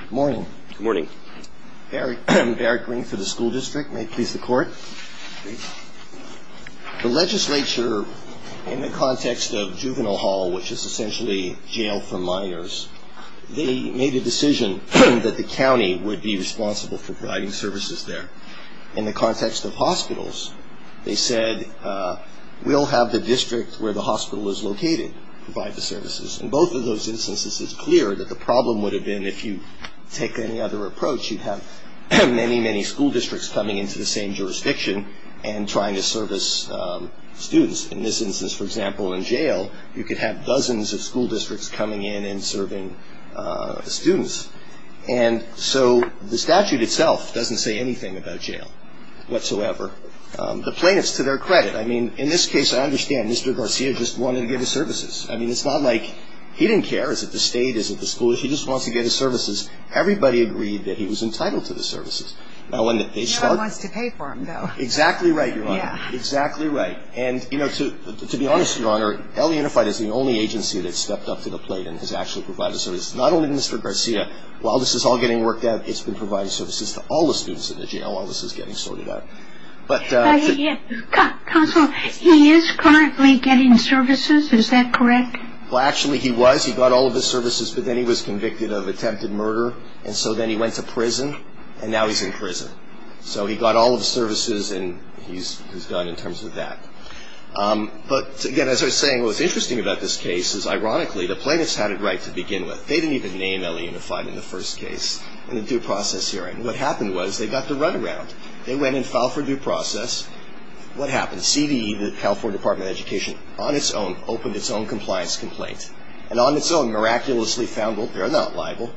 Good morning. Good morning. Barry Green for the school district. May it please the court. The legislature, in the context of juvenile hall, which is essentially jail for minors, they made a decision that the county would be responsible for providing services there. In the context of hospitals, they said, in both of those instances, it's clear that the problem would have been if you take any other approach, you'd have many, many school districts coming into the same jurisdiction and trying to service students. In this instance, for example, in jail, you could have dozens of school districts coming in and serving students. And so the statute itself doesn't say anything about jail whatsoever. The plaintiffs, to their credit, I mean, in this case, I understand Mr. Garcia just wanted to give his services. I mean, it's not like he didn't care. Is it the state? Is it the school? If he just wants to get his services, everybody agreed that he was entitled to the services. No one wants to pay for them, though. Exactly right, Your Honor. Exactly right. And, you know, to be honest, Your Honor, L.A. Unified is the only agency that's stepped up to the plate and has actually provided services. Not only Mr. Garcia. While this is all getting worked out, it's been providing services to all the students in the jail while this is getting sorted out. Counsel, he is currently getting services. Is that correct? Well, actually, he was. He got all of his services, but then he was convicted of attempted murder. And so then he went to prison, and now he's in prison. So he got all of his services, and he's done in terms of that. But, again, as I was saying, what was interesting about this case is, ironically, the plaintiffs had it right to begin with. They didn't even name L.A. Unified in the first case in the due process hearing. What happened was, they got the runaround. They went and filed for due process. What happened? CDE, the California Department of Education, on its own, opened its own compliance complaint. And on its own, miraculously found, well, they're not liable.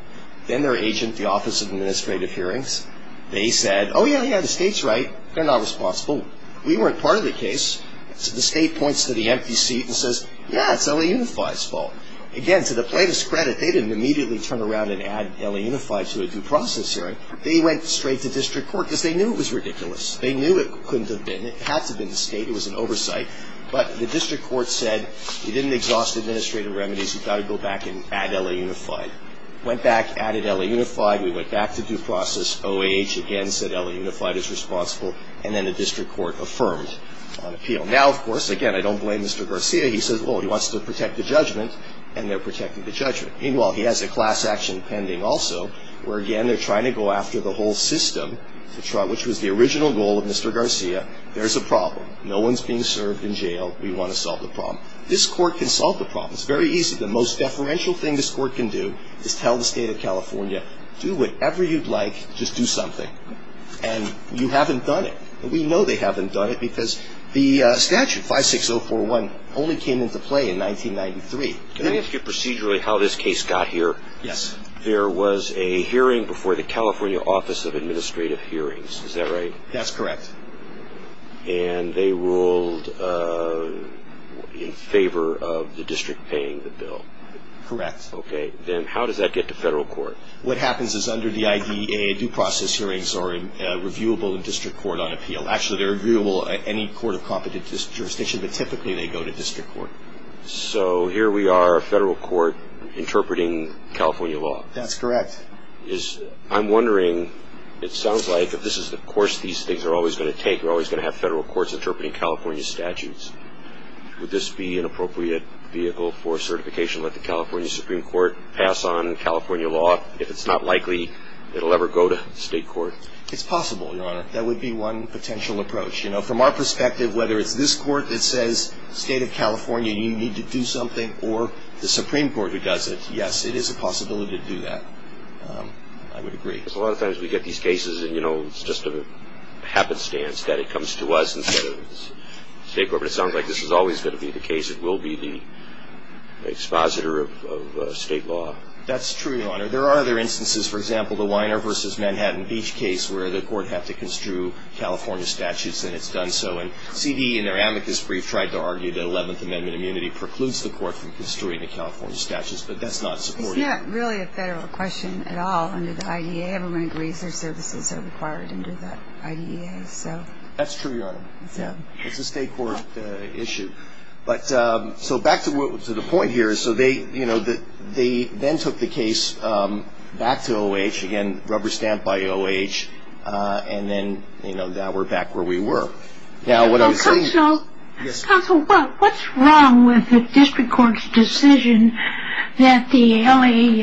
Then their agent, the Office of Administrative Hearings, they said, oh, yeah, yeah, the state's right. They're not responsible. We weren't part of the case. So the state points to the empty seat and says, yeah, it's L.A. Unified's fault. Again, to the plaintiff's credit, they didn't immediately turn around and add L.A. Unified to a due process hearing. They went straight to district court because they knew it was ridiculous. They knew it couldn't have been. It had to have been the state. It was an oversight. But the district court said, we didn't exhaust administrative remedies. We've got to go back and add L.A. Unified. Went back, added L.A. Unified. We went back to due process. OAH, again, said L.A. Unified is responsible. And then the district court affirmed on appeal. Now, of course, again, I don't blame Mr. Garcia. He says, oh, he wants to protect the judgment, and they're protecting the judgment. Meanwhile, he has a class action pending also where, again, they're trying to go after the whole system, which was the original goal of Mr. Garcia. There's a problem. No one's being served in jail. We want to solve the problem. This court can solve the problem. It's very easy. The most deferential thing this court can do is tell the State of California, do whatever you'd like, just do something. And you haven't done it. And we know they haven't done it because the statute, 56041, only came into play in 1993. Can I ask you procedurally how this case got here? Yes. There was a hearing before the California Office of Administrative Hearings. Is that right? That's correct. And they ruled in favor of the district paying the bill. Correct. Okay. Then how does that get to federal court? What happens is under the I.D.A., due process hearings are reviewable in district court on appeal. Actually, they're reviewable at any court of competent jurisdiction, but typically they go to district court. So here we are, a federal court interpreting California law. That's correct. I'm wondering, it sounds like if this is the course these things are always going to take, we're always going to have federal courts interpreting California statutes. Would this be an appropriate vehicle for certification? Let the California Supreme Court pass on California law? If it's not likely, it will ever go to state court? It's possible, Your Honor. That would be one potential approach. From our perspective, whether it's this court that says, State of California, you need to do something, or the Supreme Court who does it, yes, it is a possibility to do that. I would agree. Because a lot of times we get these cases and, you know, it's just a happenstance that it comes to us instead of the state court. But it sounds like this is always going to be the case. It will be the expositor of state law. That's true, Your Honor. There are other instances, for example, the Weiner v. Manhattan Beach case, where the court had to construe California statutes and it's done so. And C.D. in their amicus brief tried to argue that 11th Amendment immunity precludes the court from construing the California statutes. But that's not supported. It's not really a federal question at all under the IDEA. Everyone agrees their services are required under the IDEA. That's true, Your Honor. It's a state court issue. But so back to the point here. So they, you know, they then took the case back to O.H., again, rubber stamp by O.H., and then, you know, now we're back where we were. Counsel, what's wrong with the district court's decision that the L.A.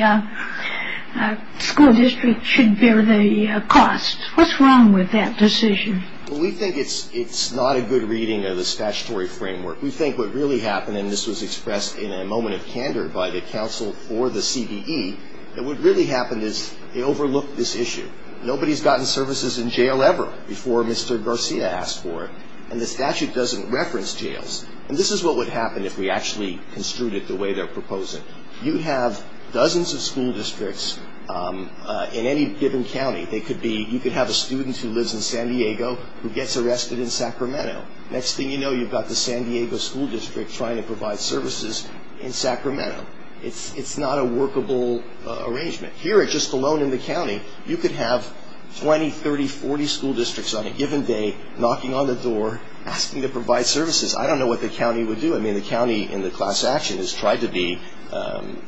school district should bear the cost? What's wrong with that decision? We think it's not a good reading of the statutory framework. We think what really happened, and this was expressed in a moment of candor by the counsel for the C.D.E., that what really happened is they overlooked this issue. Nobody's gotten services in jail ever before Mr. Garcia asked for it. And the statute doesn't reference jails. And this is what would happen if we actually construed it the way they're proposing. You have dozens of school districts in any given county. They could be you could have a student who lives in San Diego who gets arrested in Sacramento. Next thing you know, you've got the San Diego school district trying to provide services in Sacramento. It's not a workable arrangement. Here, just alone in the county, you could have 20, 30, 40 school districts on a given day knocking on the door asking to provide services. I don't know what the county would do. I mean, the county in the class action has tried to be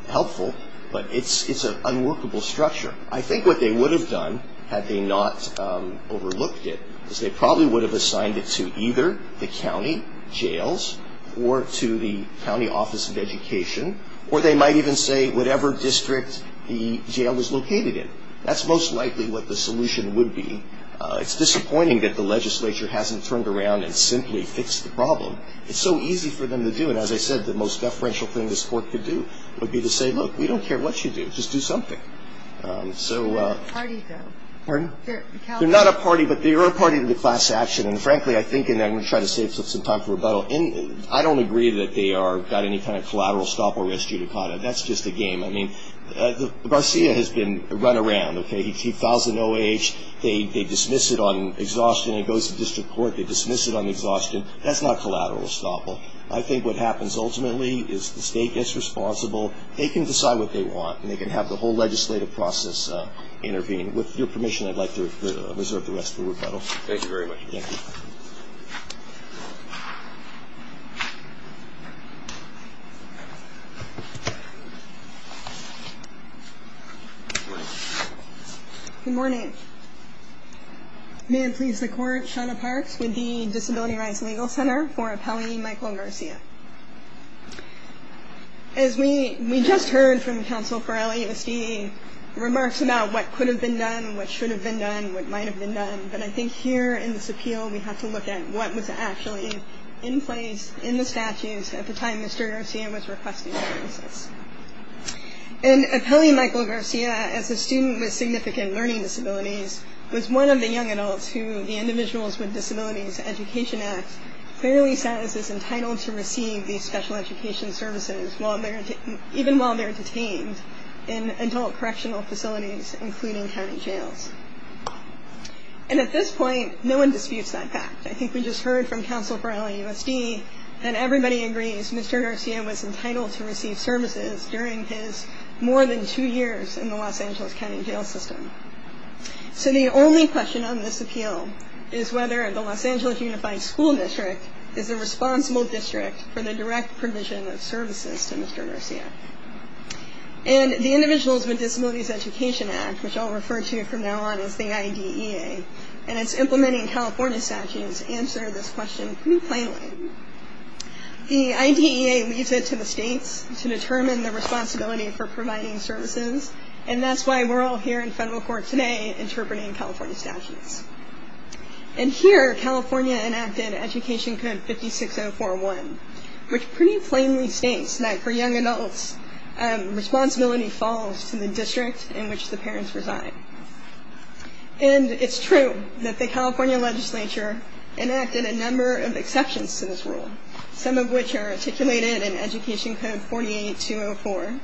helpful, but it's an unworkable structure. I think what they would have done had they not overlooked it is they probably would have assigned it to either the county jails or to the county office of education, or they might even say whatever district the jail was located in. That's most likely what the solution would be. It's disappointing that the legislature hasn't turned around and simply fixed the problem. It's so easy for them to do, and as I said, the most deferential thing this court could do would be to say, look, we don't care what you do, just do something. They're not a party, though. Pardon? They're not a party, but they are a party to the class action, and frankly, I think, and I'm going to try to save some time for rebuttal, I don't agree that they have any kind of collateral estoppel risk due to COTA. That's just a game. I mean, Garcia has been run around. He files an OAH. They dismiss it on exhaustion. It goes to district court. They dismiss it on exhaustion. That's not collateral estoppel. I think what happens ultimately is the state gets responsible. They can decide what they want, and they can have the whole legislative process intervene. With your permission, I'd like to reserve the rest of the rebuttal. Thank you very much. Thank you. Good morning. Good morning. May it please the court, Shauna Parks with the Disability Rights Legal Center for appellee Michael Garcia. As we just heard from counsel for LASD, remarks about what could have been done, what should have been done, what might have been done, but I think here in this appeal, we have to look at what was actually in place in the statutes at the time Mr. Garcia was requesting services. And appellee Michael Garcia, as a student with significant learning disabilities, was one of the young adults who the Individuals with Disabilities Education Act clearly says is entitled to receive these special education services even while they're detained in adult correctional facilities, including county jails. And at this point, no one disputes that fact. I think we just heard from counsel for LASD that everybody agrees Mr. Garcia was entitled to receive services during his more than two years in the Los Angeles county jail system. So the only question on this appeal is whether the Los Angeles Unified School District is a responsible district for the direct provision of services to Mr. Garcia. And the Individuals with Disabilities Education Act, which I'll refer to from now on as the IDEA, and its implementing California statutes answer this question pretty plainly. The IDEA leaves it to the states to determine the responsibility for providing services, and that's why we're all here in federal court today interpreting California statutes. And here, California enacted Education Code 56041, which pretty plainly states that for young adults, responsibility falls to the district in which the parents reside. And it's true that the California legislature enacted a number of exceptions to this rule, some of which are articulated in Education Code 48204.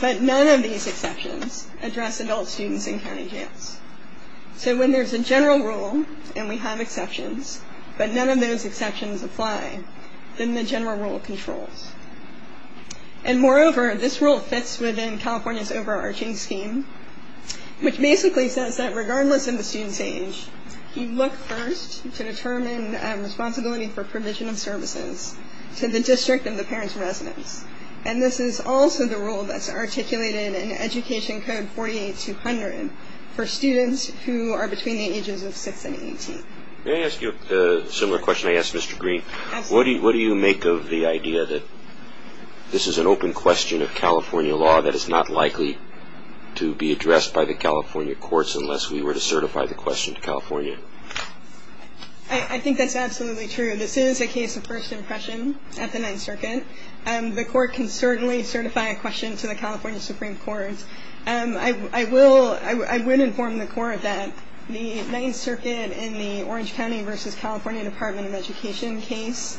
But none of these exceptions address adult students in county jails. So when there's a general rule and we have exceptions, but none of those exceptions apply, then the general rule controls. And moreover, this rule fits within California's overarching scheme, which basically says that regardless of the student's age, you look first to determine responsibility for provision of services to the district of the parents' residence. And this is also the rule that's articulated in Education Code 48200 for students who are between the ages of 6 and 18. Can I ask you a similar question I asked Mr. Green? What do you make of the idea that this is an open question of California law that is not likely to be addressed by the California courts unless we were to certify the question to California? I think that's absolutely true. This is a case of first impression at the Ninth Circuit. The court can certainly certify a question to the California Supreme Court. I would inform the court that the Ninth Circuit in the Orange County versus California Department of Education case,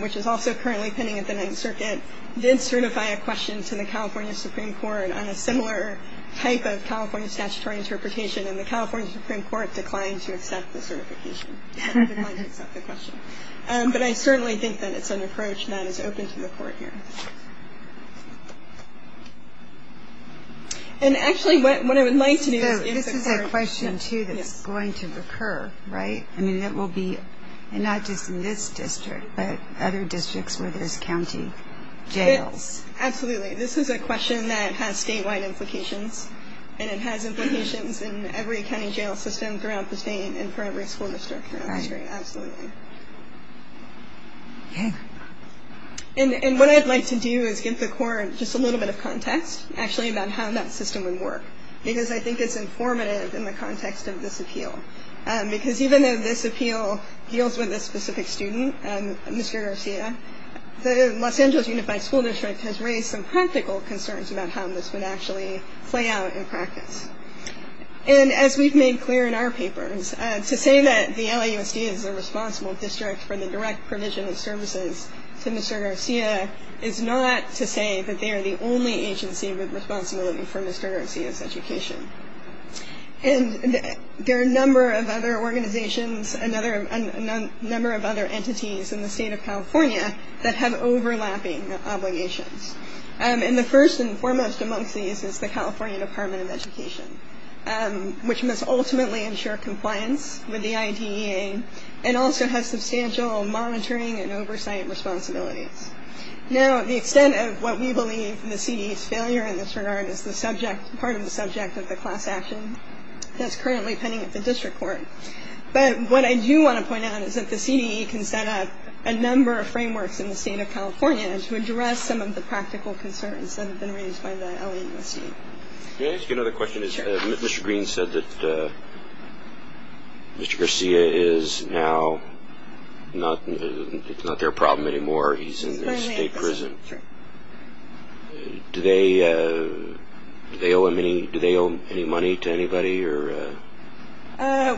which is also currently pending at the Ninth Circuit, did certify a question to the California Supreme Court on a similar type of California statutory interpretation. And the California Supreme Court declined to accept the question. But I certainly think that it's an approach that is open to the court here. And actually, what I would like to do is... This is a question, too, that's going to recur, right? I mean, it will be not just in this district, but other districts where there's county jails. Absolutely. This is a question that has statewide implications, and it has implications in every county jail system throughout the state and for every school district throughout the state, absolutely. And what I'd like to do is give the court just a little bit of context, actually, about how that system would work, because I think it's informative in the context of this appeal. Because even though this appeal deals with a specific student, Mr. Garcia, the Los Angeles Unified School District has raised some practical concerns about how this would actually play out in practice. And as we've made clear in our papers, to say that the LAUSD is a responsible district for the direct provision of services to Mr. Garcia is not to say that they are the only agency with responsibility for Mr. Garcia's education. And there are a number of other organizations, a number of other entities in the state of California that have overlapping obligations. And the first and foremost amongst these is the California Department of Education, which must ultimately ensure compliance with the IDEA and also has substantial monitoring and oversight responsibilities. Now, the extent of what we believe in the CDE's failure in this regard is part of the subject of the class action that's currently pending at the district court. But what I do want to point out is that the CDE can set up a number of frameworks in the state of California to address some of the practical concerns that have been raised by the LAUSD. Can I ask you another question? Sure. Mr. Green said that Mr. Garcia is now not their problem anymore. He's in the state prison. He's currently in prison, sure. Do they owe him any money to anybody? Well,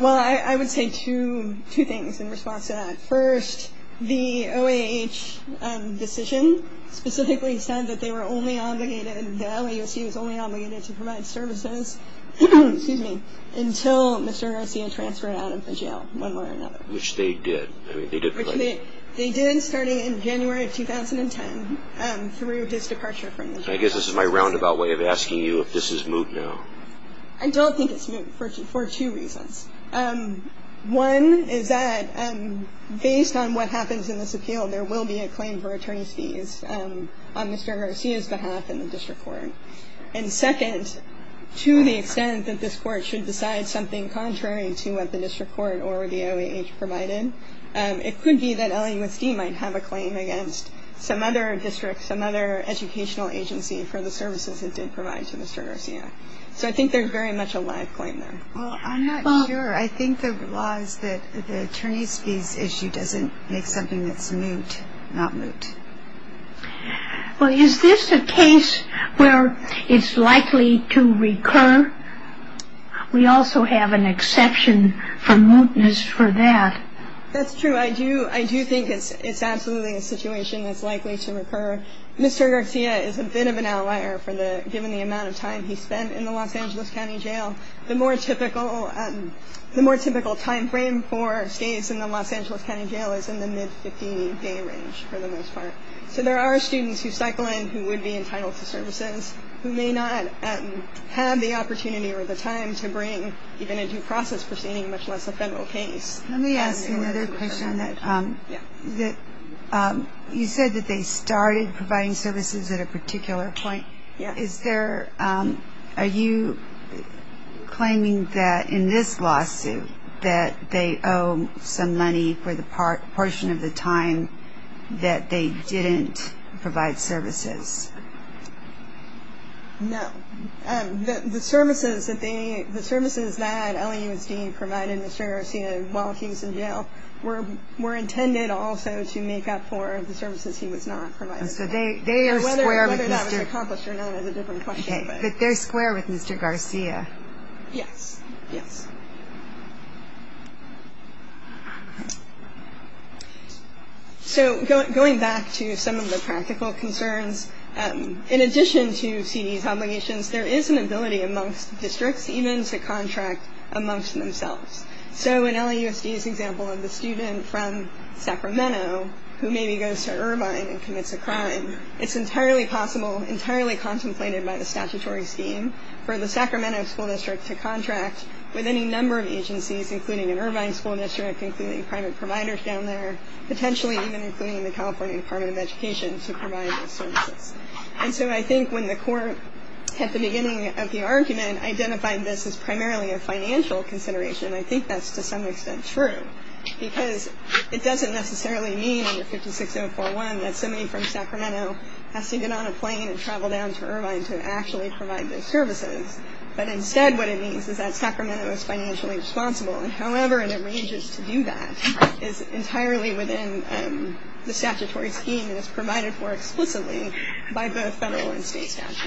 I would say two things in response to that. First, the OAH decision specifically said that they were only obligated, the LAUSD was only obligated to provide services until Mr. Garcia transferred out of the jail one way or another. Which they did. They did starting in January of 2010 through his departure from the jail. I guess this is my roundabout way of asking you if this is moot now. I don't think it's moot for two reasons. One is that based on what happens in this appeal, there will be a claim for attorney's fees on Mr. Garcia's behalf in the district court. And second, to the extent that this court should decide something contrary to what the district court or the OAH provided, it could be that LAUSD might have a claim against some other district, some other educational agency for the services it did provide to Mr. Garcia. So I think there's very much a live claim there. Well, I'm not sure. I think the law is that the attorney's fees issue doesn't make something that's moot not moot. Well, is this a case where it's likely to recur? We also have an exception for mootness for that. That's true. I do think it's absolutely a situation that's likely to recur. Mr. Garcia is a bit of an outlier given the amount of time he spent in the Los Angeles County Jail. The more typical timeframe for stays in the Los Angeles County Jail is in the mid-15-day range for the most part. So there are students who cycle in who would be entitled to services who may not have the opportunity or the time to bring even a due process proceeding, much less a federal case. Let me ask another question on that. You said that they started providing services at a particular point. Are you claiming that in this lawsuit that they owe some money for the portion of the time that they didn't provide services? No. The services that LAUSD provided Mr. Garcia while he was in jail were intended also to make up for the services he was not provided. Whether that was accomplished or not is a different question. But they're square with Mr. Garcia? Yes. So going back to some of the practical concerns, in addition to CD's obligations, there is an ability amongst districts even to contract amongst themselves. So in LAUSD's example of the student from Sacramento who maybe goes to Irvine and commits a crime, it's entirely possible, entirely contemplated by the statutory scheme, for the Sacramento school district to contract with any number of agencies, including an Irvine school district, including private providers down there, potentially even including the California Department of Education to provide those services. And so I think when the court at the beginning of the argument identified this as primarily a financial consideration, I think that's to some extent true. Because it doesn't necessarily mean under 56041 that somebody from Sacramento has to get on a plane and travel down to Irvine to actually provide those services. But instead what it means is that Sacramento is financially responsible. And however it arranges to do that is entirely within the statutory scheme and is provided for explicitly by both federal and state statutes.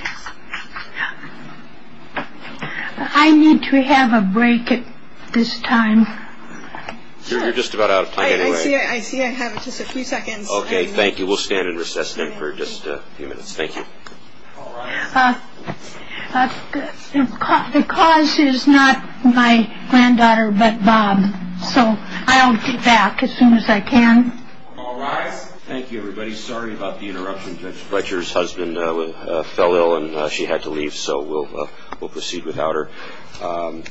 I need to have a break at this time. You're just about out of time anyway. I see I have just a few seconds. Okay, thank you. We'll stand and recess then for just a few minutes. Thank you. All rise. The cause is not my granddaughter but Bob. So I'll be back as soon as I can. All rise. Thank you everybody. I'm very sorry about the interruption. Judge Fletcher's husband fell ill and she had to leave, so we'll proceed without her.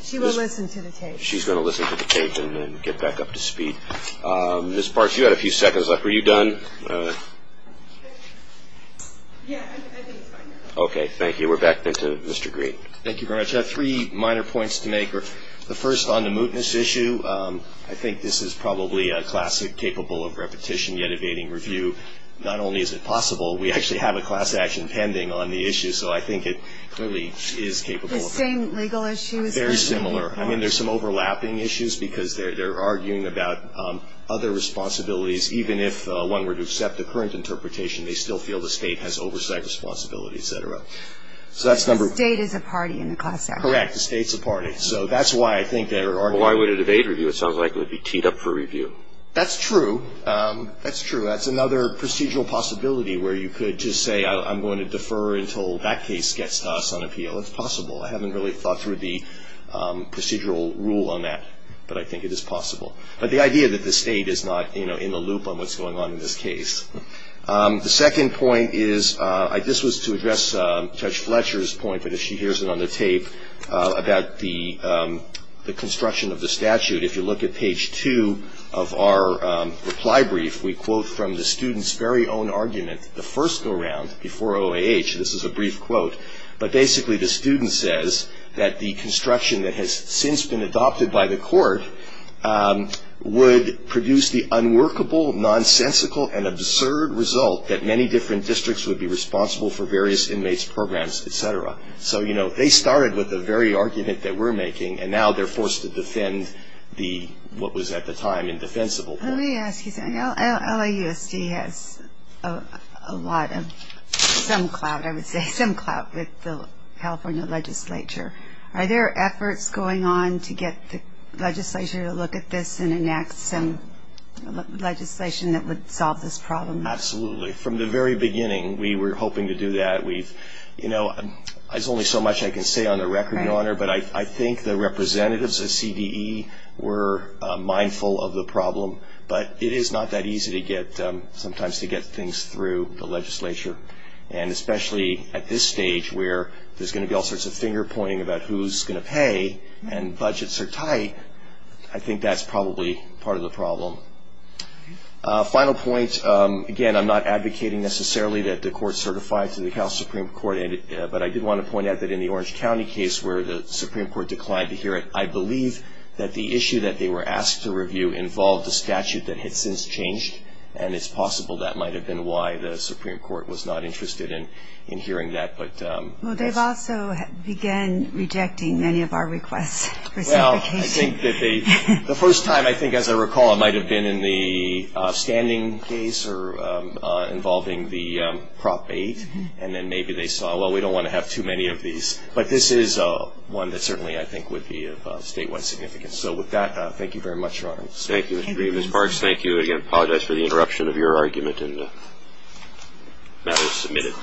She will listen to the tape. She's going to listen to the tape and get back up to speed. Ms. Parks, you had a few seconds left. Were you done? Yeah, I think it's fine. Okay, thank you. We're back then to Mr. Green. Thank you very much. I have three minor points to make. The first on the mootness issue, I think this is probably a classic capable of repetition yet evading review. Not only is it possible, we actually have a class action pending on the issue, so I think it clearly is capable. The same legal issues. Very similar. I mean, there's some overlapping issues because they're arguing about other responsibilities, even if one were to accept the current interpretation, they still feel the state has oversight responsibility, et cetera. So that's number one. The state is a party in the class action. Correct, the state's a party. So that's why I think they're arguing. Well, why would it evade review? It sounds like it would be teed up for review. That's true. That's true. That's another procedural possibility where you could just say, I'm going to defer until that case gets to us on appeal. It's possible. I haven't really thought through the procedural rule on that, but I think it is possible. But the idea that the state is not in the loop on what's going on in this case. The second point is, this was to address Judge Fletcher's point, but if she hears it on the tape, about the construction of the statute. If you look at page two of our reply brief, we quote from the student's very own argument, the first go-round before OAH, this is a brief quote, but basically the student says that the construction that has since been adopted by the court would produce the unworkable, nonsensical, and absurd result that many different districts would be responsible for various inmates' programs, et cetera. So they started with the very argument that we're making, and now they're forced to defend what was at the time indefensible. Let me ask you something. LAUSD has some clout, I would say, some clout with the California legislature. Are there efforts going on to get the legislature to look at this and enact some legislation that would solve this problem? Absolutely. From the very beginning, we were hoping to do that. There's only so much I can say on the record, Your Honor, but I think the representatives of CDE were mindful of the problem, but it is not that easy sometimes to get things through the legislature, and especially at this stage where there's going to be all sorts of finger-pointing about who's going to pay and budgets are tight, I think that's probably part of the problem. Final point, again, I'm not advocating necessarily that the court certify to the Supreme Court, but I did want to point out that in the Orange County case where the Supreme Court declined to hear it, I believe that the issue that they were asked to review involved a statute that had since changed, and it's possible that might have been why the Supreme Court was not interested in hearing that. Well, they've also began rejecting many of our requests for certification. Well, the first time, I think, as I recall, it might have been in the standing case involving the Prop 8, and then maybe they saw, well, we don't want to have too many of these. But this is one that certainly I think would be of statewide significance. So with that, thank you very much, Your Honor. Thank you, Mr. Green. Ms. Parks, thank you again. I apologize for the interruption of your argument and matters submitted.